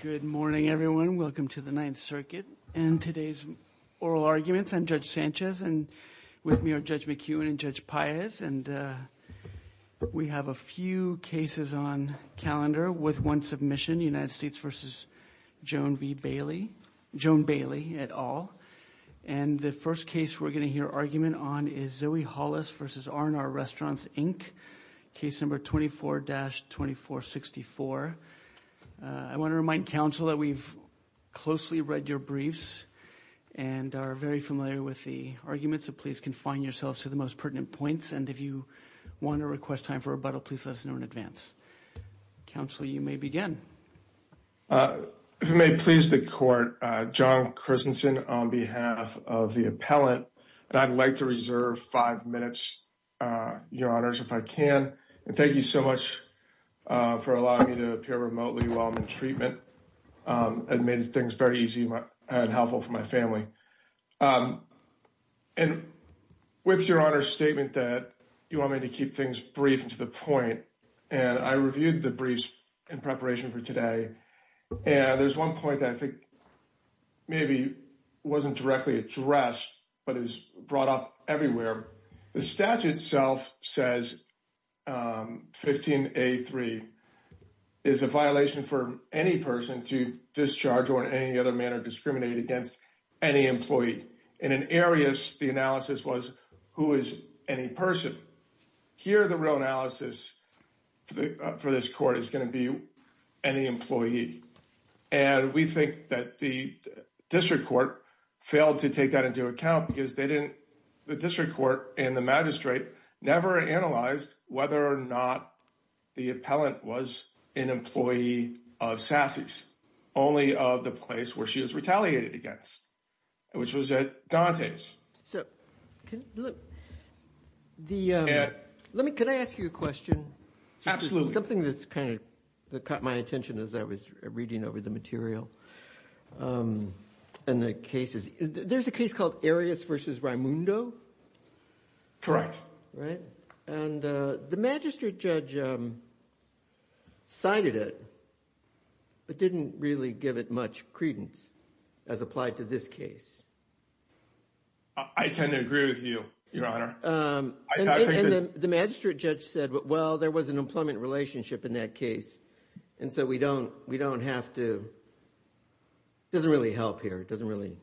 Good morning everyone. Welcome to the Ninth Circuit and today's oral arguments. I'm Judge Sanchez and with me are Judge McEwen and Judge Paez and we have a few cases on calendar with one submission, United States v. Joan V. Bailey, Joan Bailey et al. And the first case we're going to hear argument on is Zoe Hollis v. R&R Restaurants, Inc, case number 24-2464. I want to remind counsel that we've closely read your briefs and are very familiar with the arguments so please confine yourselves to the most pertinent points and if you want to request time for rebuttal please let us know in advance. Counsel, you may begin. If you may please the court, John Christensen on behalf of the appellant and I'd like to reserve five minutes, Your Honors, if I can and thank you so much for allowing me to appear remotely while I'm in treatment and made things very easy and helpful for my family. And with Your Honor's statement that you want me to keep things brief and to the point and I reviewed the briefs in preparation for today and there's one point that I think maybe wasn't directly addressed but is brought up everywhere. The statute itself says 15a3 is a violation for any person to discharge or in any other manner discriminate against any employee. In an arius the analysis was who is any person. Here the real analysis for this court is going to be any employee and we think that the district court failed to take that into account because they didn't, the district court and the magistrate never analyzed whether or not the appellant was an employee of Sassy's only of the place where she was retaliated against which was at Dante's. Can I ask you a question? Absolutely. Something that's kind of caught my attention as I was reading over the material and the cases. There's a case called Arius versus Raimundo? Correct. And the magistrate judge cited it but didn't really give it much credence as applied to this case. I tend to agree with you, Your Honor. The magistrate judge said well there was an employment relationship in that case and so we don't we don't have to, it doesn't really help here, it doesn't really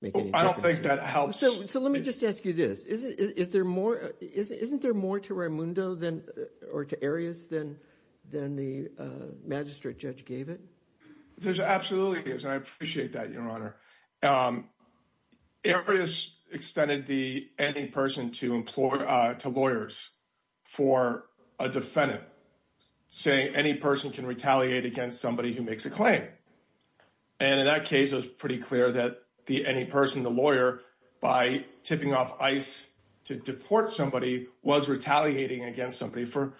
make any difference. I don't think that helps. So let me just ask you this. Isn't there more to Raimundo or to Arius than the magistrate judge gave it? There absolutely is and I appreciate that, Your for a defendant saying any person can retaliate against somebody who makes a claim. And in that case it was pretty clear that the any person, the lawyer, by tipping off ICE to deport somebody was retaliating against somebody for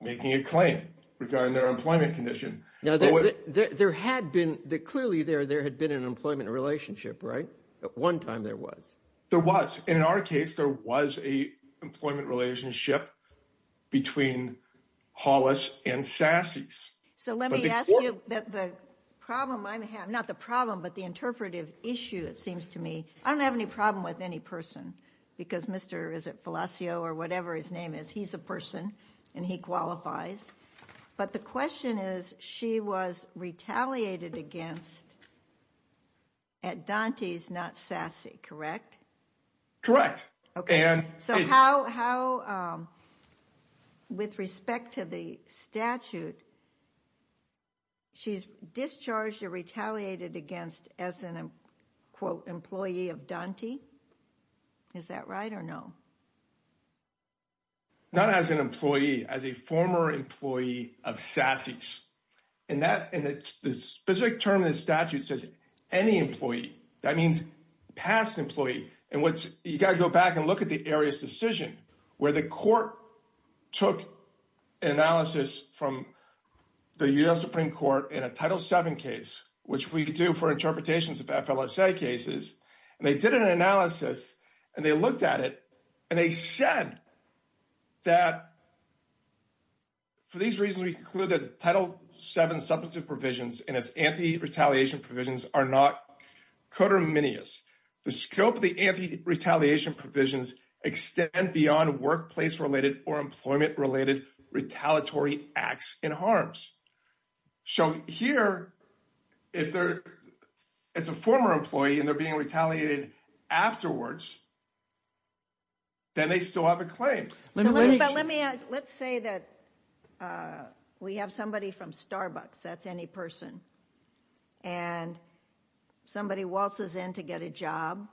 making a claim regarding their employment condition. Now there had been, clearly there had been an employment relationship, right? At one time there was. There was. In our case there was a employment relationship between Hollis and Sasse's. So let me ask you that the problem I'm having, not the problem but the interpretive issue it seems to me, I don't have any problem with any person because Mr. is it Felacio or whatever his name is, he's a person and he qualifies. But the question is she was retaliated against at Dante's not Sasse, correct? Correct. Okay. So how with respect to the statute she's discharged or retaliated against as an quote employee of Dante? Is that right or no? Not as an employee, as a former employee of Sasse's. And that in the specific term in the statute says any employee. That means past employee. And what's, you got to go back and look at the area's decision where the court took analysis from the US Supreme Court in a Title 7 case, which we do for interpretations of FLSA cases, and they did an analysis and they looked at it and they said that for these reasons we conclude that the Title 7 substantive provisions and it's anti-retaliation provisions are not codominious. The scope of the anti-retaliation provisions extend beyond workplace-related or employment-related retaliatory acts in harms. So here if they're, it's a former employee and they're being retaliated afterwards, then they still have a claim. Let's say that we have somebody from Starbucks, that's any person, and somebody waltzes in to get a job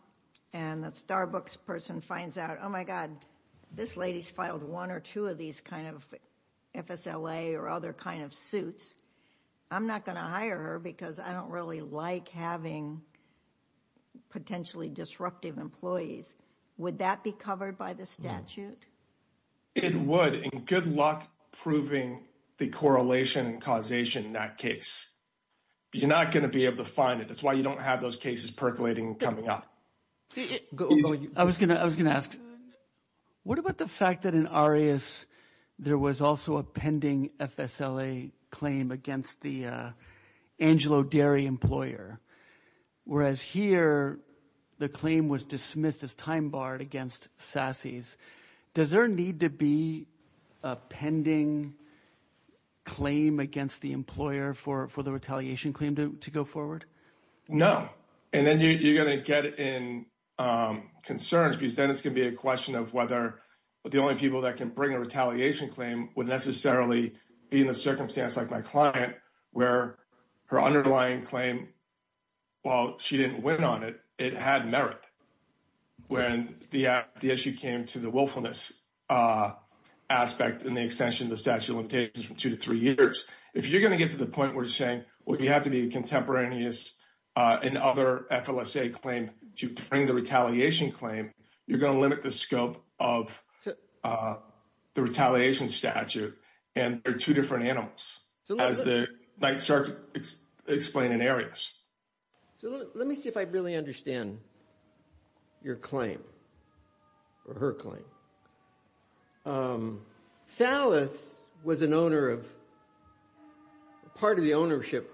and the Starbucks person finds out, oh my god this lady's filed one or two of these kind of FSLA or other kind of suits. I'm not going to hire her because I don't really like having potentially disruptive employees. Would that be covered by the statute? It would and good luck proving the correlation and causation in that case. You're not going to be able to find it, that's why you don't have those cases percolating coming up. I was gonna ask, what about the fact that in Arias there was also a pending FSLA claim against the Angelo Dairy employer, whereas here the claim was dismissed as time-barred against sassies. Does there need to be a pending claim against the employer for the retaliation claim to go forward? No, and then you're gonna get in concerns because then it's gonna be a question of whether the only people that can bring a retaliation claim would necessarily be in a circumstance like my client where her underlying claim, while she didn't win on it, it had merit when the issue came to the willfulness aspect in the extension of the statute of limitations from two to three years. If you're gonna get to the point where you're saying, well you have to be contemporaneous in other FLSA claim to bring the retaliation claim, you're gonna limit the scope of the retaliation statute and they're two different animals, as the night sergeant explained in Arias. So let me see if I really understand your claim, or her claim. Phallus was an owner of, part of the ownership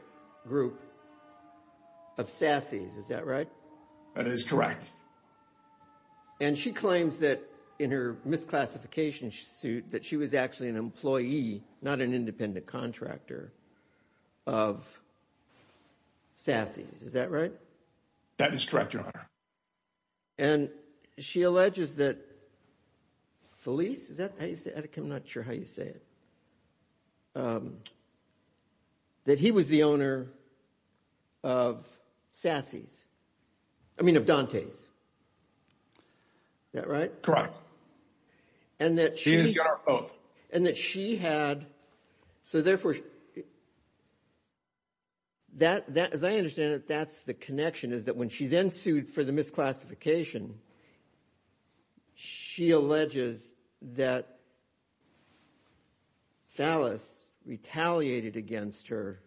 group of sassies, is that right? That is correct. And she claims that in her misclassification suit that she was actually an employee, not an independent contractor of sassies, is that right? That is correct, your honor. And she alleges that, Phallus, is that how you say it? I'm not sure how you say it. That he was the owner of sassies, I mean of Dante's, is that right? Correct. And that she had, so therefore, that, as I understand it, that's the connection, is that when she then sued for the misclassification, she alleges that Phallus retaliated against her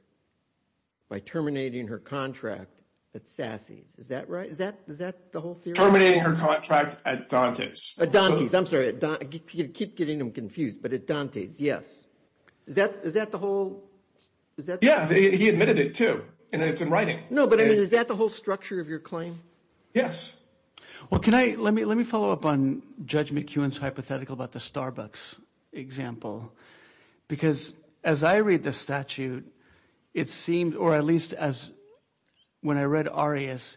by terminating her contract at sassies, is that right? Is that, is that the whole theory? Terminating her contract at Dante's. At Dante's, I'm sorry, keep getting them confused, but at Dante's, yes. Is that, is that the whole, is that? Yeah, he admitted it too, and it's in writing. No, but I mean, is that the whole structure of your claim? Yes. Well, can I, let me, let me follow up on Judge McEwen's hypothetical about the Starbucks example, because as I read the statute, it seemed, or at least as, when I read Arias,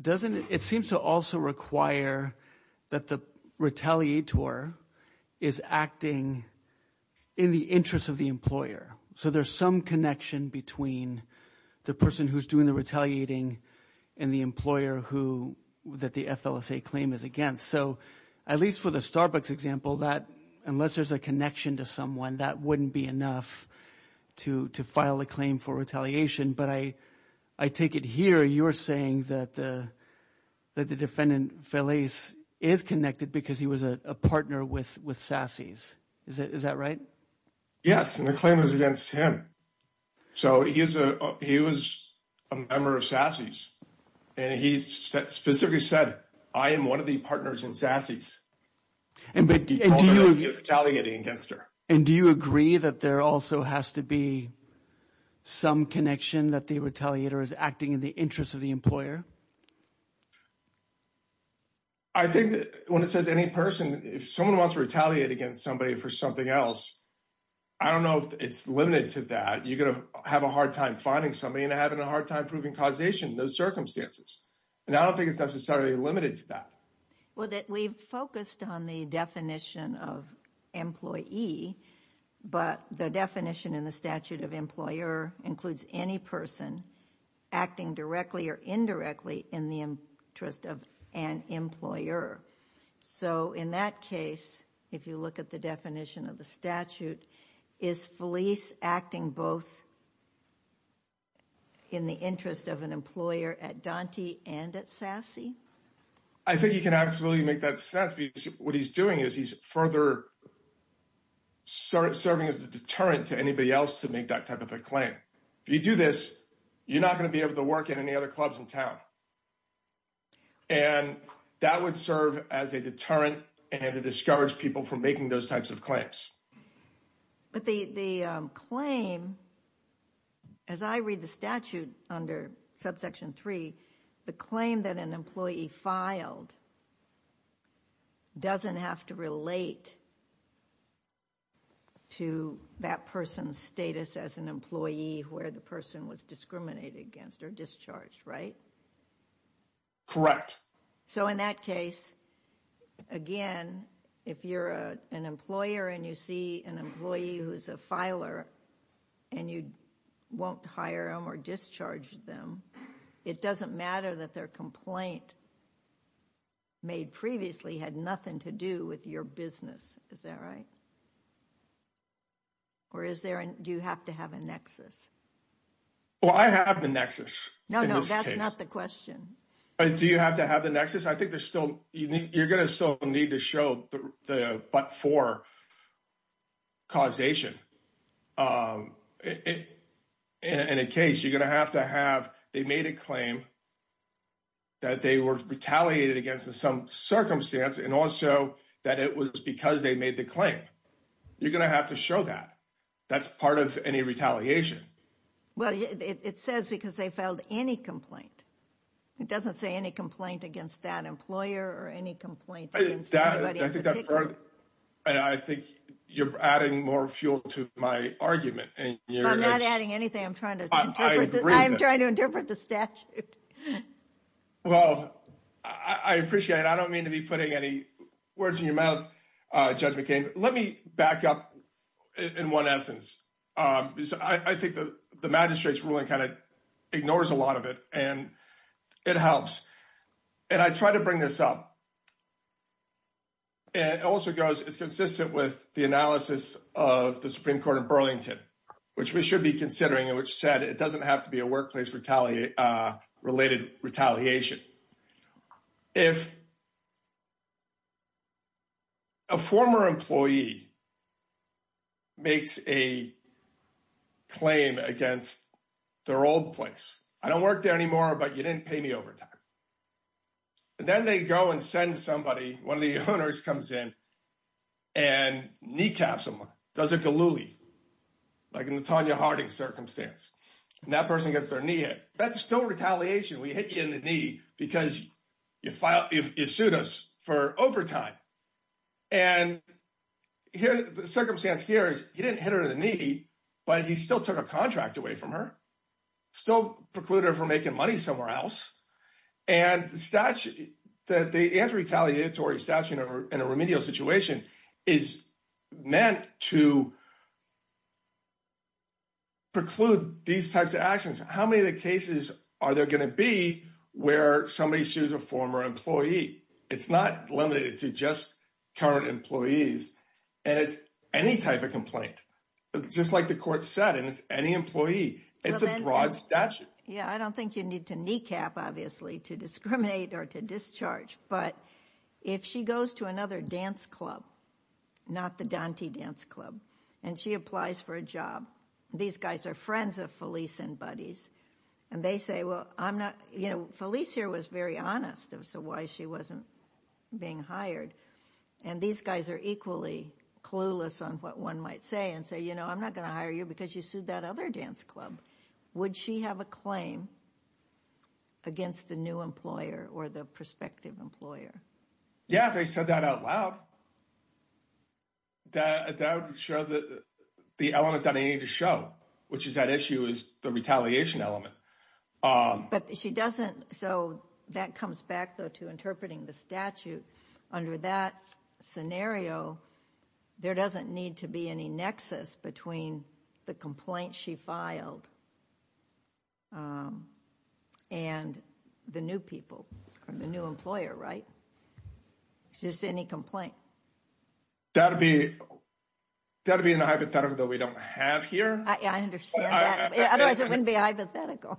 doesn't, it seems to also require that the retaliator is acting in the interest of the employer. So there's some connection between the person who's doing the retaliating and the employer who, that the FLSA claim is against. So at least for the Starbucks example, that, unless there's a connection to someone, that wouldn't be enough to, to file a claim for retaliation. But I, I take it here, you're saying that the, that the defendant, Feliz, is connected because he was a partner with, with Sassy's. Is that, is that right? Yes, and the claim is against him. So he is a, he was a member of Sassy's, and he specifically said, I am one of the partners in Sassy's. And but he told me that he was retaliating against her. And do you agree that there also has to be some connection that the retaliator is acting in the interest of the employer? I think that when it says any person, if someone wants to retaliate against somebody for something else, I don't know if it's limited to that. You're going to have a hard time finding somebody and having a hard time proving causation in those circumstances. And I don't think it's necessarily limited to that. Well, that we've focused on the definition of employee, but the definition in the statute of employer includes any person acting directly or indirectly in the interest of an employer. So in that case, if you look at the definition of the statute, is Feliz acting both in the interest of an employer at Dante and at Sassy? I think you can absolutely make that sense What he's doing is he's further serving as a deterrent to anybody else to make that type of a claim. If you do this, you're not going to be able to work in any other clubs in town. And that would serve as a deterrent and to discourage people from making those types of claims. But the claim, as I read the statute under subsection 3, the claim that an employee filed doesn't have to relate to that person's status as an employee where the person was discriminated against or discharged, right? Correct. So in that case, again, if you're an employer and you see an employee who's a filer and you won't hire them or discharge them, it doesn't matter that their complaint made previously had nothing to do with your business. Is that right? Or do you have to have a nexus? Well, I have the nexus. No, no, that's not the question. Do you have to have the nexus? I think you're going to still need to show the but-for causation. In a case, you're going to have to have, they made a claim that they were retaliated against in some circumstance and also that it was because they made the claim. You're going to have to show that. That's part of any retaliation. Well, it says because they filed any complaint. It doesn't say any complaint against that employer or any complaint. I think you're adding more fuel to my argument. I'm not adding anything. I'm trying to interpret the statute. Well, I appreciate it. I don't mean to be putting any words in your mouth, Judge McCain. Let me back up in one essence. I think the magistrate's ruling kind of ignores a lot of it, and it helps. I try to bring this up. It also goes, it's consistent with the analysis of the Supreme Court of Burlington, which we should be considering, which said it doesn't have to be a workplace-related retaliation. If a former employee makes a claim against their old place, I don't work there anymore, but you didn't pay me overtime. Then they go and send somebody, one of the owners comes in and kneecaps someone, does a galooly, like in the Tonya Harding circumstance. That person gets their knee hit. That's still retaliation. We hit you in the knee because you sued us for overtime. The circumstance here is, he didn't hit her in the knee, but he still took a contract away from her, still precluded her from making money somewhere else. The anti-retaliatory statute in a remedial situation is meant to preclude these types of actions. How many of the cases are there going to be where somebody sues a former employee? It's not limited to just current employees, and it's any type of complaint, just like the court said, and it's any employee. It's a broad statute. Yeah, I don't think you need to kneecap, obviously, to discriminate or to discharge, but if she goes to another dance club, not the Dante Dance Club, and she applies for a job, these guys are friends of Felice and Buddy's, and they say, well, Felice here was very honest as to why she wasn't being hired, and these guys are equally clueless on what one might say and say, you know, I'm not going to hire you because you sued that other dance club. Would she have a claim against a new employer or the prospective employer? Yeah, they said that out loud. That would show the element that I need to show, which is that issue is the retaliation element. But she doesn't, so that comes back, though, to interpreting the statute. Under that scenario, there doesn't need to be any nexus between the complaint she filed and the new people or the new employer, right? It's just any complaint. That would be a hypothetical that we don't have here. I understand that. Otherwise, it wouldn't be hypothetical.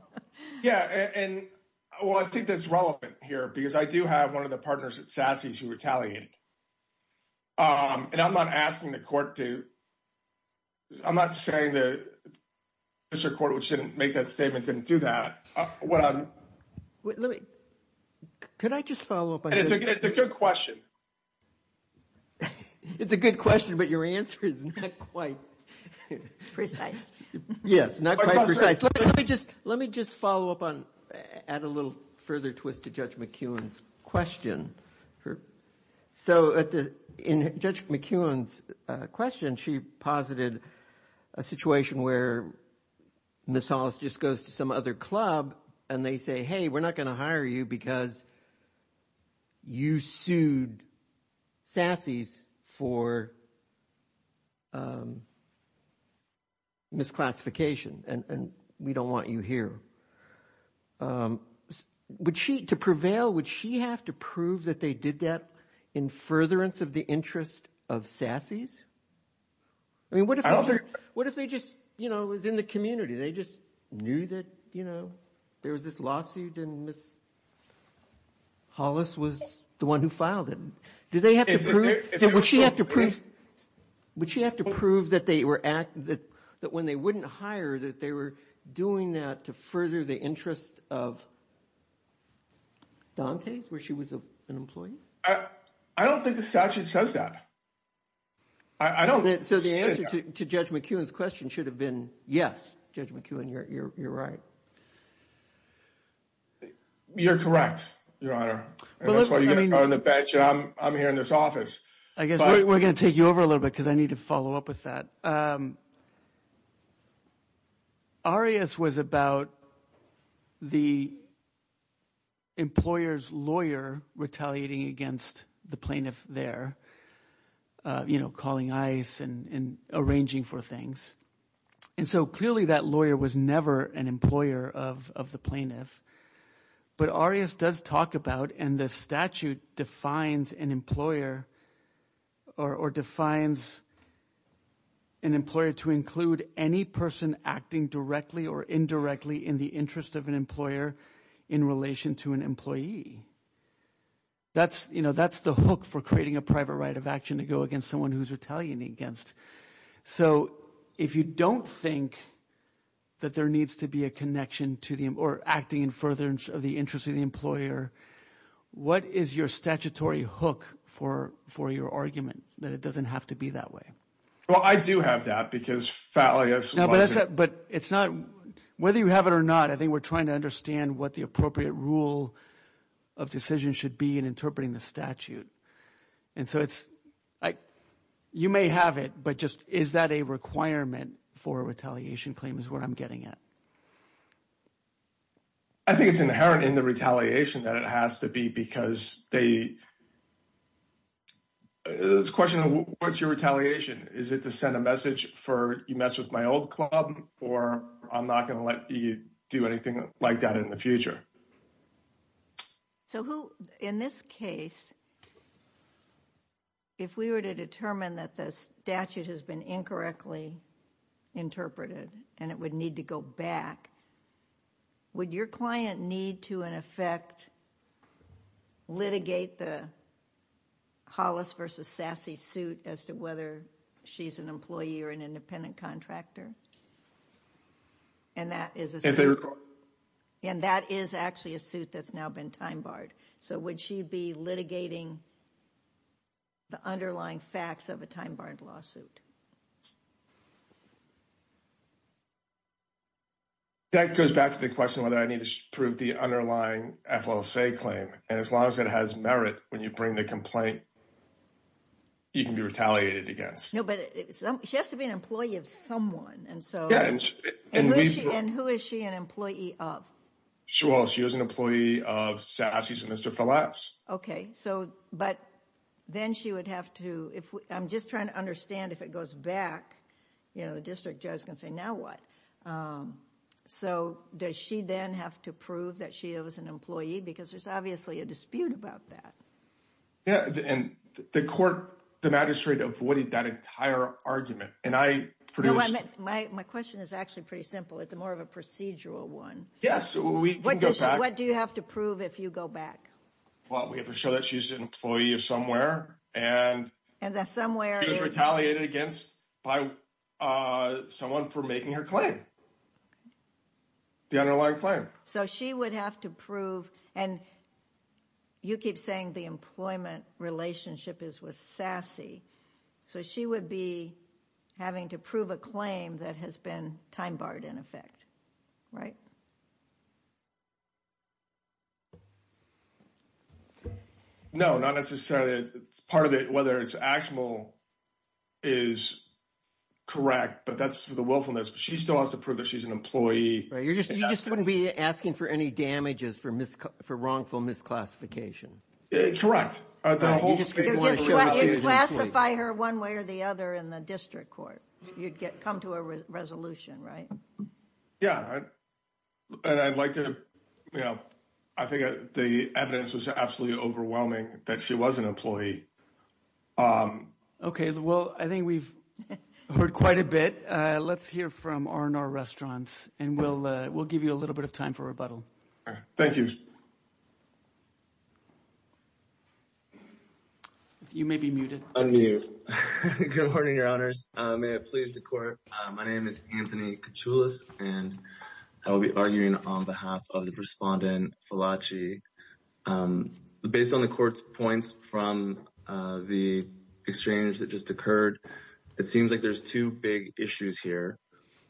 Yeah, and, well, I think that's relevant here because I do have one of the partners at SASE who retaliated. And I'm not asking the court to, I'm not saying that Mr. Court, which didn't make that statement, didn't do that. Let me, could I just follow up on that? It's a good question. It's a good question, but your answer is not quite precise. Yes, not quite precise. Let me just follow up on, add a little further twist to Judge McEwen's question. So in Judge McEwen's question, she posited a situation where Ms. Hollis just goes to some other club and they say, hey, we're not going to hire you because you sued SASE for misclassification and we don't want you here. Would she, to prevail, would she have to prove that they did that in furtherance of the interest of SASE? I mean, what if, what if they just, you know, it was in the community. They just knew that, you know, there was this lawsuit and Ms. Hollis was the one who filed it. Did they have to prove, would she have to prove, would she have to prove that they were, that when they wouldn't hire, that they were doing that to further the interest of Dante's, where she was an employee? I don't think the statute says that. I don't. So the answer to Judge McEwen's question should have been, yes, Judge McEwen, you're right. You're correct, Your Honor. I'm here in this office. I guess we're going to take you over a little bit because I need to follow up with that. Arias was about the employer's lawyer retaliating against the plaintiff there, you know, calling ice and arranging for things. And so clearly that lawyer was never an employer of the plaintiff. But Arias does talk about, and the statute defines an employer or defines an employer to include any person acting directly or indirectly in the interest of an employer in relation to an employee. That's, you know, that's the hook for creating a private right of action to go against someone who's retaliating against. So if you don't think that there needs to be a connection to the, or acting in furtherance of the interest of the employer, what is your statutory hook for your argument that it doesn't have to be that way? Well, I do have that because Fallius... But it's not, whether you have it or not, I think we're trying to understand what the appropriate rule of decision should be in interpreting the statute. And so it's, you may have it, but just, is that a requirement for a retaliation claim is what I'm getting at. I think it's inherent in the retaliation that it has to be because they, it's a question of what's your retaliation? Is it to send a message for, you messed with my old club, or I'm not going to let you do anything like that in the future? So who, in this case, if we were to determine that the statute has been incorrectly interpreted and it would need to go through, would you take the Hollis versus Sasse suit as to whether she's an employee or an independent contractor? And that is actually a suit that's now been time-barred. So would she be litigating the underlying facts of a time-barred lawsuit? That goes back to the question whether I need to prove the underlying FLSA claim. And as long as it has merit, when you bring the complaint, you can be retaliated against. No, but she has to be an employee of someone. And so, and who is she an employee of? Sure. She was an employee of Sasse's and Mr. Flass. Okay. So, but then she would have to, if I'm just trying to understand if it goes back, you know, the district judge can say, now what? So does she then have to prove that she was an employee? Because there's obviously a dispute about that. Yeah. And the court, the magistrate avoided that entire argument. And I produced... No, my question is actually pretty simple. It's more of a procedural one. Yes. We can go back. What do you have to prove if you go back? Well, we have to show that she's an employee of somewhere and... And that somewhere is... She was retaliated against by someone for making her claim, the underlying claim. So she would have to prove, and you keep saying the employment relationship is with Sasse. So she would be having to prove a claim that has been time barred in effect, right? No, not necessarily. It's part of it, whether it's actionable is correct, but that's for the willfulness. But she still has to prove that she's an employee. You just wouldn't be asking for any damages for wrongful misclassification. Correct. You'd classify her one way or the other in the district court. You'd come to a resolution, right? Yeah. And I'd like to... I think the evidence was absolutely overwhelming that she was an employee. Okay. Well, I think we've heard quite a bit. Let's hear from R&R Restaurants, and we'll give you a little bit of time for rebuttal. Thank you. You may be muted. Unmute. Good morning, your honors. May it please the court. My name is Anthony Kachoulis, and I will be arguing on behalf of the respondent, Falachi. Based on the court's points from the exchange that just occurred, it seems like there's two big issues here.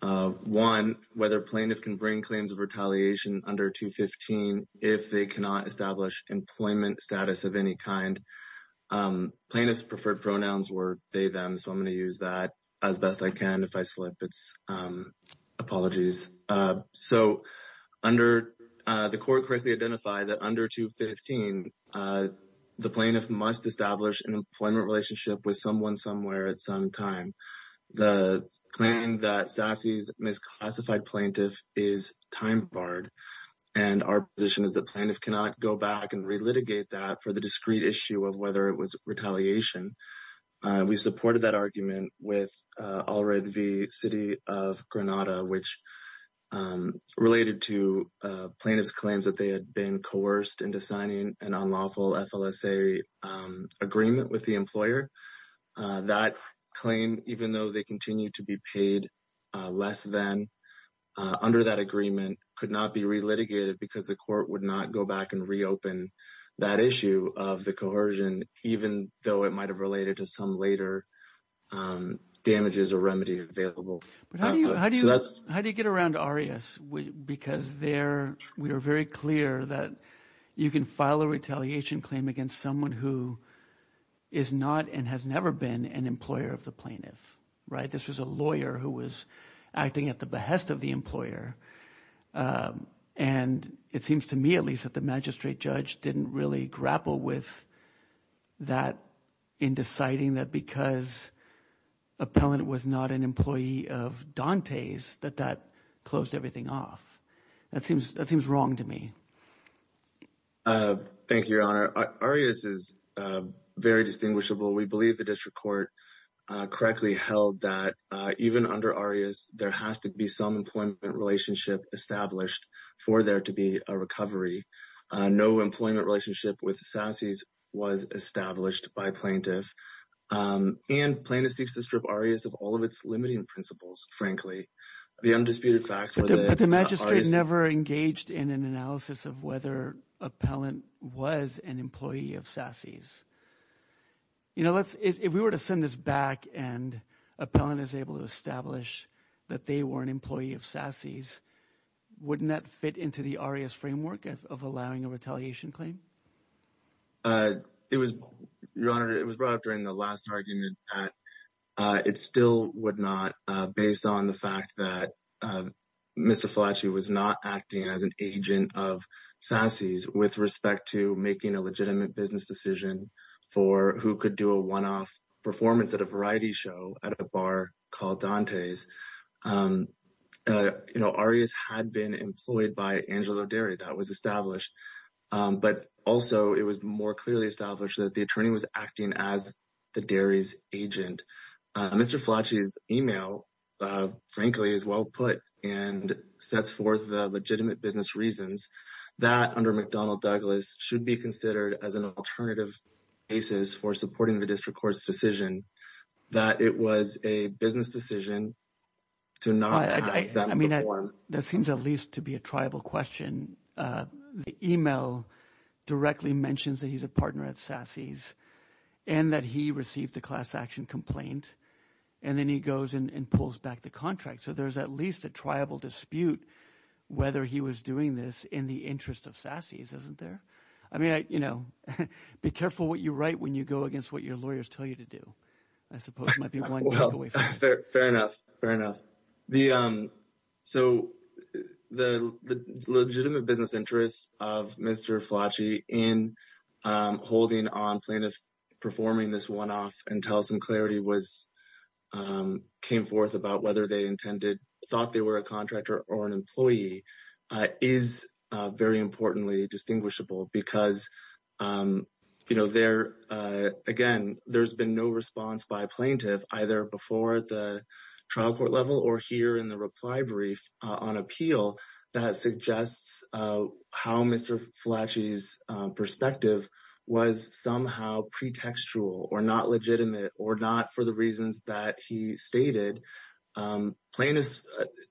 One, whether plaintiff can bring claims of retaliation under 215 if they cannot establish employment status of any kind. Plaintiff's preferred pronouns were they, them, so I'm going to use that as best I can. If I slip, it's apologies. So under... The court correctly identified that under 215, the plaintiff must establish an employment relationship with someone somewhere at some time. The claim that Sassy's misclassified plaintiff is time barred, and our position is the plaintiff cannot go back and relitigate that for the discrete issue of whether it was retaliation. We supported that argument with Allred v. City of Granada, which is a non-lawful FLSA agreement with the employer. That claim, even though they continue to be paid less than under that agreement, could not be relitigated because the court would not go back and reopen that issue of the coercion, even though it might have related to some later damages or remedy available. How do you get around ARIAS? Because there, we are very clear that you can file a retaliation claim against someone who is not and has never been an employer of the plaintiff, right? This was a lawyer who was acting at the behest of the employer, and it seems to me at least that the magistrate judge didn't really grapple with that in deciding that because appellant was not an employee of Dante's, that that closed everything off. That seems wrong to me. Thank you, Your Honor. ARIAS is very distinguishable. We believe the district court correctly held that even under ARIAS, there has to be some employment relationship established for there to be a recovery. No employment relationship with SASE was established by plaintiff, and plaintiff seeks to strip ARIAS of all of its limiting principles, frankly. The undisputed facts... But the magistrate never engaged in an analysis of whether appellant was an employee of SASE's. If we were to send this back and appellant is able to establish that they were an employee of SASE's, wouldn't that fit into the ARIAS framework of allowing a retaliation claim? Your Honor, it was brought up during the last argument that it still would not based on the fact that Mr. Fallaci was not acting as an agent of SASE's with respect to making a legitimate business decision for who could do a one-off performance at a variety show at a bar called Dante's. ARIAS had been employed by Angelo Derry. That was established, but also it was more clearly established that the attorney was acting as Derry's agent. Mr. Fallaci's email, frankly, is well put and sets forth the legitimate business reasons that under McDonnell-Douglas should be considered as an alternative basis for supporting the district court's decision that it was a business decision to not... I mean, that seems at least to be a tribal question. The email directly mentions that he's a partner at SASE's and that he received the class action complaint and then he goes and pulls back the contract. So there's at least a tribal dispute whether he was doing this in the interest of SASE's, isn't there? I mean, you know, be careful what you write when you go against what your lawyers tell you to do, I suppose might be one takeaway. Fair enough, fair enough. So the legitimate business interest of Mr. Fallaci in holding on plaintiff performing this one-off and tell some clarity was came forth about whether they intended thought they were a contractor or an employee is very importantly distinguishable because, you know, there again, there's been no response by plaintiff either before the trial court level or here in the reply brief on appeal that suggests how Mr. Fallaci's perspective was somehow pretextual or not legitimate or not for the reasons that he stated plaintiff's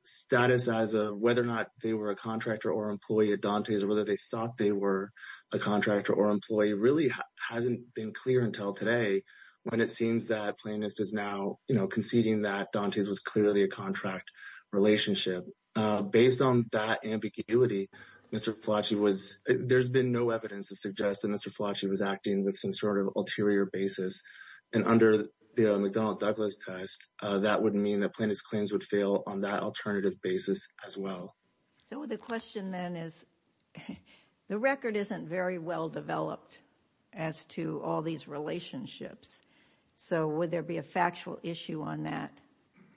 status as a whether or not they were a contractor or employee at Dante's or whether they thought they were a contractor or employee really hasn't been clear until today when it seems that plaintiff is now, you know, conceding that Dante's was clearly a relationship. Based on that ambiguity, Mr. Fallaci was, there's been no evidence to suggest that Mr. Fallaci was acting with some sort of ulterior basis and under the McDonnell Douglas test, that would mean that plaintiff's claims would fail on that alternative basis as well. So the question then is the record isn't very well developed as to all these relationships. So would there be a factual issue on that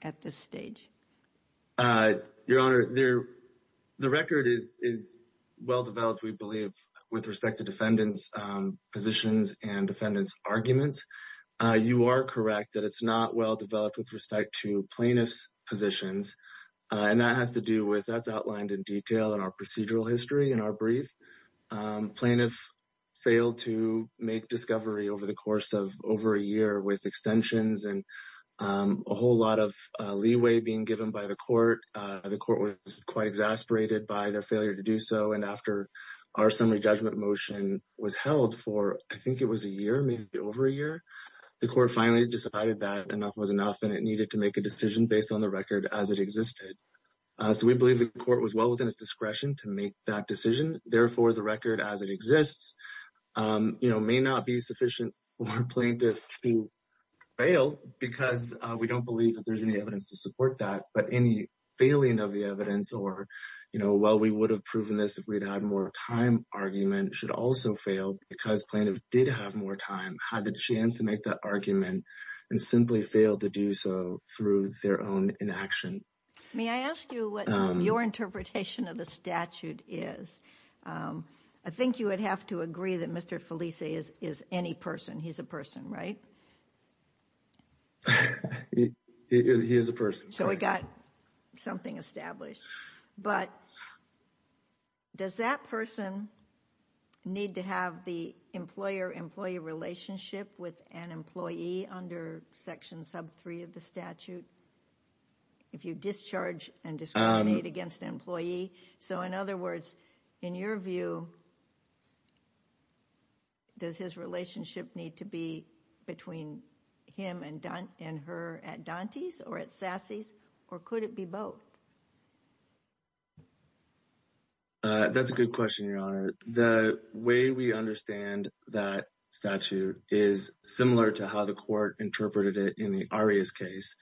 at this stage? Your Honor, the record is well developed we believe with respect to defendant's positions and defendant's arguments. You are correct that it's not well developed with respect to plaintiff's positions and that has to do with that's outlined in detail in our procedural with extensions and a whole lot of leeway being given by the court. The court was quite exasperated by their failure to do so and after our summary judgment motion was held for, I think it was a year, maybe over a year, the court finally decided that enough was enough and it needed to make a decision based on the record as it existed. So we believe the court was well within its discretion to make that decision, therefore the record as it exists, you know, may not be sufficient for plaintiff to fail because we don't believe that there's any evidence to support that, but any failing of the evidence or, you know, while we would have proven this if we'd had more time argument should also fail because plaintiff did have more time, had the chance to make that argument, and simply failed to do so through their own inaction. May I ask you what your interpretation of the statute is? I think you would have to agree that Mr. Felice is is any person, he's a person, right? He is a person. So we got something established, but does that person need to have the employer-employee relationship with an employee under section sub 3 of the statute if you discharge and discriminate against an employee? So in other words, in your view, does his relationship need to be between him and her at Dante's or at Sassy's, or could it be both? That's a good question, Your Honor. The way we understand that statute is similar to how the court interpreted it in the Arias case,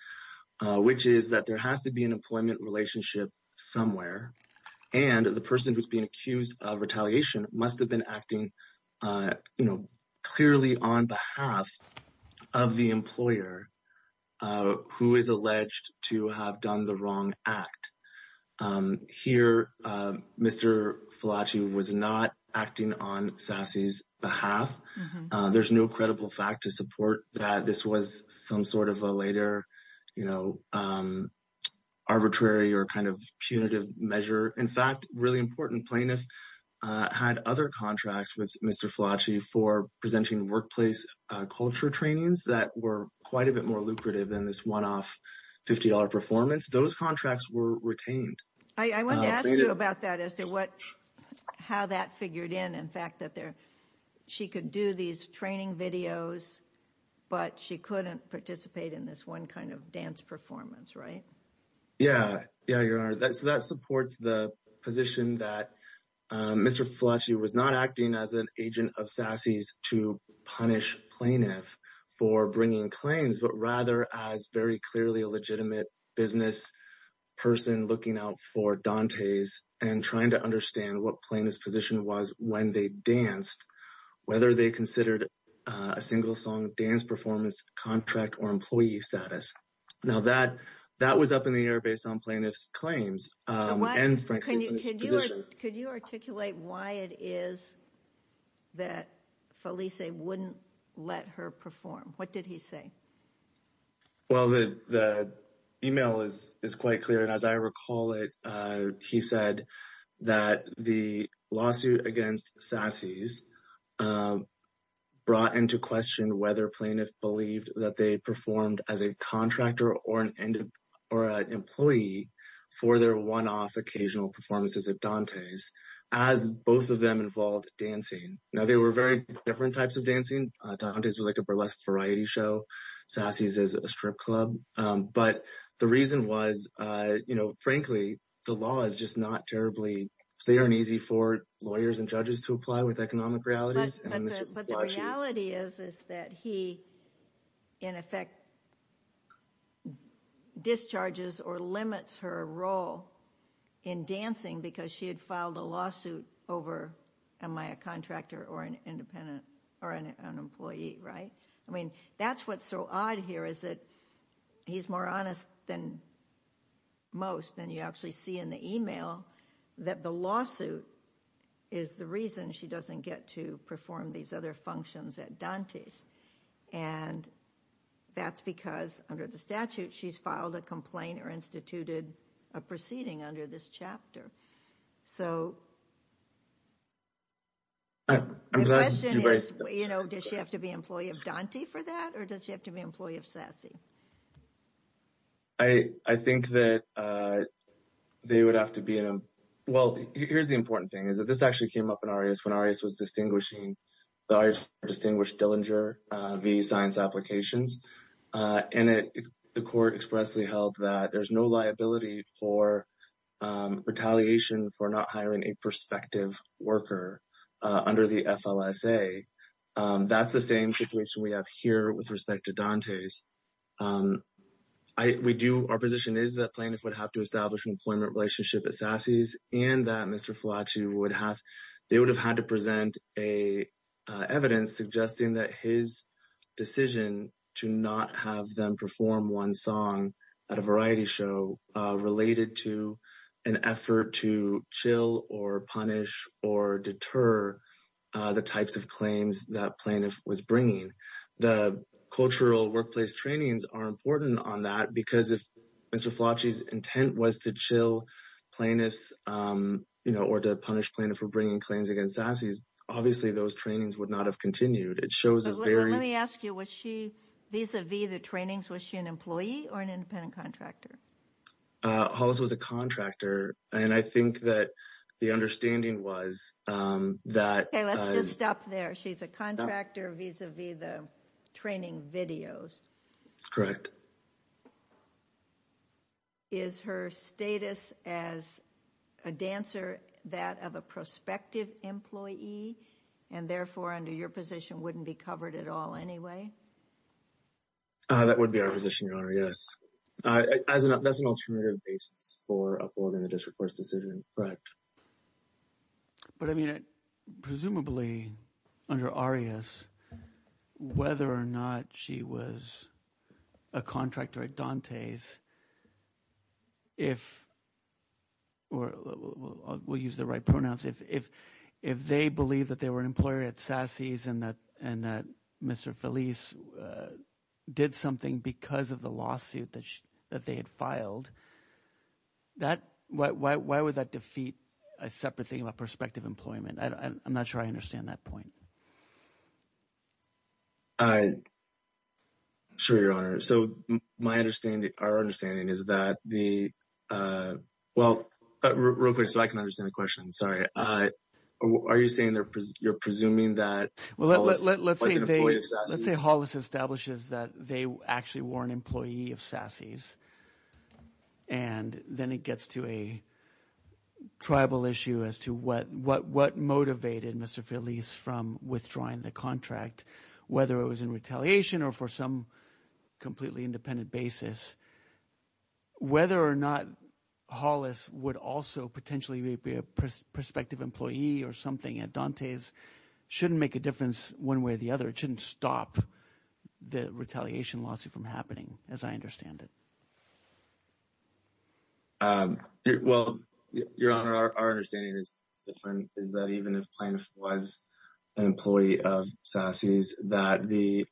which is that there has to be an employment relationship somewhere, and the person who's being accused of retaliation must have been acting, you know, clearly on behalf of the employer who is alleged to have done the wrong act. Here, Mr. Felice was not acting on Sassy's behalf. There's no credible fact to support that this was some sort of a later, you know, arbitrary or kind of punitive measure. In fact, a really important plaintiff had other contracts with Mr. Felice for presenting workplace culture trainings that were quite a bit more lucrative than this one-off $50 performance. Those contracts were retained. I want to ask you about that, Esther, how that figured in, in fact, that she could do these training videos, but she couldn't participate in this one kind of dance performance, right? Yeah, yeah, Your Honor. So that supports the position that Mr. Felice was not acting as an agent of Sassy's to punish plaintiff for bringing claims, but rather as very clearly a legitimate business person looking out for Dante's and trying to understand what plaintiff's position was when they danced, whether they considered a single song dance performance contract or employee status. Now that, that was up in the air based on plaintiff's claims. Could you articulate why it is that Felice wouldn't let her perform? What did he say? Well, the email is quite clear. And as I recall it, he said that the lawsuit against Sassy's brought into question whether plaintiff believed that they performed as a contractor or an employee for their one-off occasional performances at Dante's as both of them involved dancing. Now, they were very different types of dancing. Dante's was like a burlesque variety show. Sassy's is a strip club. But the reason was, you know, frankly, the law is just not terribly, they aren't easy for lawyers and judges to apply with economic realities. But the reality is, is that he, in effect, discharges or limits her role in dancing because she had filed a lawsuit over, am I a contractor or an independent or an employee, right? I mean, that's what's so odd here is that he's more honest than most. And you actually see in the email that the lawsuit is the reason she doesn't get to perform these other functions at Dante's. And that's because under the statute, she's filed a complaint or instituted a proceeding under this chapter. So the question is, you know, does she have to be an employee of Dante for that? Or does she have to be an employee of Sassy? I think that they would have to be, well, here's the important thing is that this actually came up in ARIAS when ARIAS was distinguishing, the ARIAS distinguished Dillinger via science applications. And the court expressly held that there's no perspective worker under the FLSA. That's the same situation we have here with respect to Dante's. Our position is that plaintiff would have to establish an employment relationship at Sassy's and that Mr. Fulaci would have, they would have had to present evidence suggesting that his decision to not have them perform one song at a variety show related to an effort to or punish or deter the types of claims that plaintiff was bringing. The cultural workplace trainings are important on that because if Mr. Fulaci's intent was to chill plaintiffs, you know, or to punish plaintiff for bringing claims against Sassy's, obviously those trainings would not have continued. It shows a very... Let me ask you, was she, vis-a-vis the trainings, was she an employee or an independent contractor? Hollis was a contractor. And I think that the understanding was that... Okay, let's just stop there. She's a contractor vis-a-vis the training videos. Correct. Is her status as a dancer that of a prospective employee and therefore under your position wouldn't be covered at all anyway? That would be our position, Your Honor, yes. That's an alternative basis for upholding the district court's decision, correct. But I mean, presumably under Arias, whether or not she was a contractor at Dante's, if, or we'll use the right pronouns, if they believe that they were an employer at Sassy's and that Mr. Felice did something because of the lawsuit that they had filed, that, why would that defeat a separate thing about prospective employment? I'm not sure I understand that point. I'm sure, Your Honor. So my understanding, our understanding is that the, well, real quick, so I can understand the question, sorry. Are you saying that you're presuming that, let's say Hollis establishes that they actually were an employee of Sassy's and then it gets to a tribal issue as to what motivated Mr. Felice from withdrawing the contract, whether it was in retaliation or for some completely independent basis, whether or not Hollis would also potentially be a prospective employee or something at Dante's shouldn't make a difference one way or the other. It shouldn't stop the retaliation lawsuit from happening, as I understand it. Well, Your Honor, our understanding is different, is that even if Plaintiff was an employee of Sassy's, that the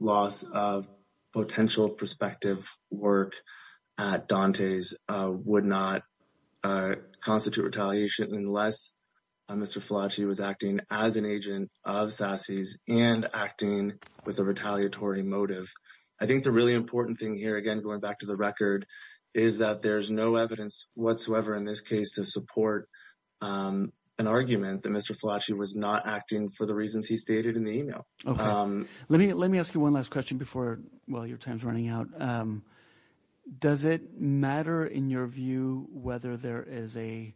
loss of potential prospective work at Dante's would not constitute retaliation unless Mr. Felice was acting as an agent of Sassy's and acting with a retaliatory motive. I think the really important thing here, again, going back to the record, is that there's no evidence whatsoever in this case to support an argument that Mr. Felice was not acting for the reasons he stated in the email. Let me ask you one last question before, well, your time's running out. Does it matter in your view whether there is a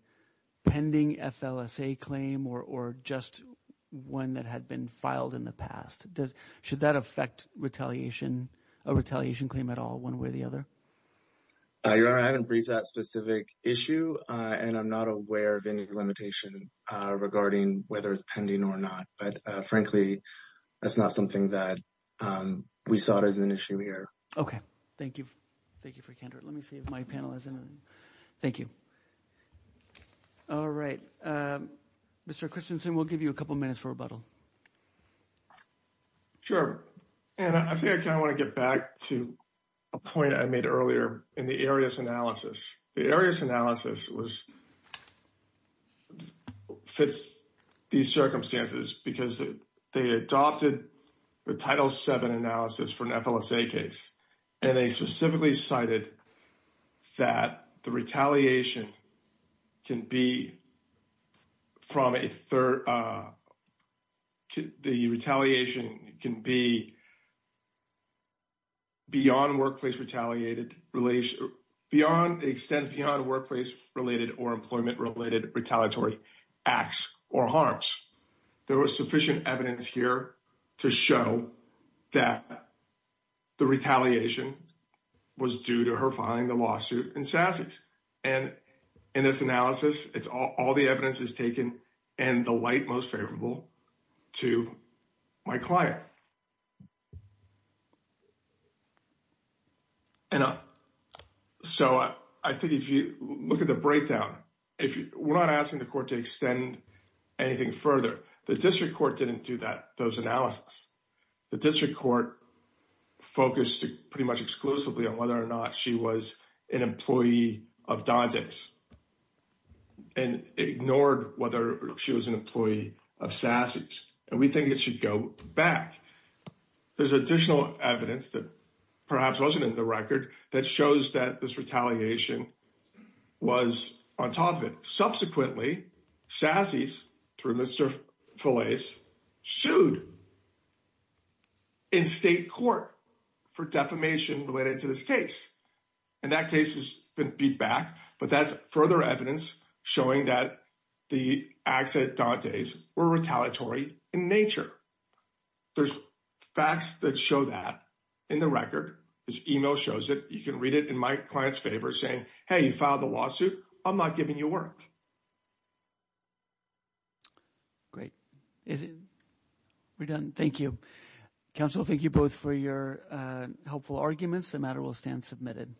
pending FLSA claim or just one that had been filed in the past? Should that affect a retaliation claim at all one way or the other? Your Honor, I haven't briefed that specific issue and I'm not aware of any limitation regarding whether it's pending or not. But frankly, that's not something that we saw as an issue here. Okay. Thank you. Thank you for your candor. Let me see if my panel has anything. Thank you. All right. Mr. Christensen, we'll give you a couple minutes for rebuttal. Sure. And I think I kind of want to get back to a point I made earlier in the areas analysis. The areas analysis fits these circumstances because they adopted the Title VII analysis for an FLSA case. And they specifically cited that the retaliation can be beyond workplace retaliated, extends beyond workplace-related or employment-related retaliatory acts or harms. There was sufficient evidence here to show that the retaliation was due to her filing the lawsuit in SASIS. And in this analysis, it's all the evidence is taken and the light most favorable to my client. And so I think if you look at the breakdown, we're not asking the court to extend anything further. The district court didn't do that, those analysis. The district court focused pretty much exclusively on whether or not she was an employee of DODGS and ignored whether she was an employee of SASIS. And we think it should go back. There's additional evidence that perhaps wasn't in the record that shows that this retaliation was on top of it. Subsequently, SASIS through Mr. Felice sued in state court for defamation related to this case. And that case has been beat back, but that's further evidence showing that the acts at Dante's were retaliatory in nature. There's facts that show that in the record. This email shows it. You can read it in my client's favor saying, hey, you filed the lawsuit. I'm not giving you work. Great. We're done. Thank you. Counsel, thank you both for your helpful arguments. The matter will stand submitted.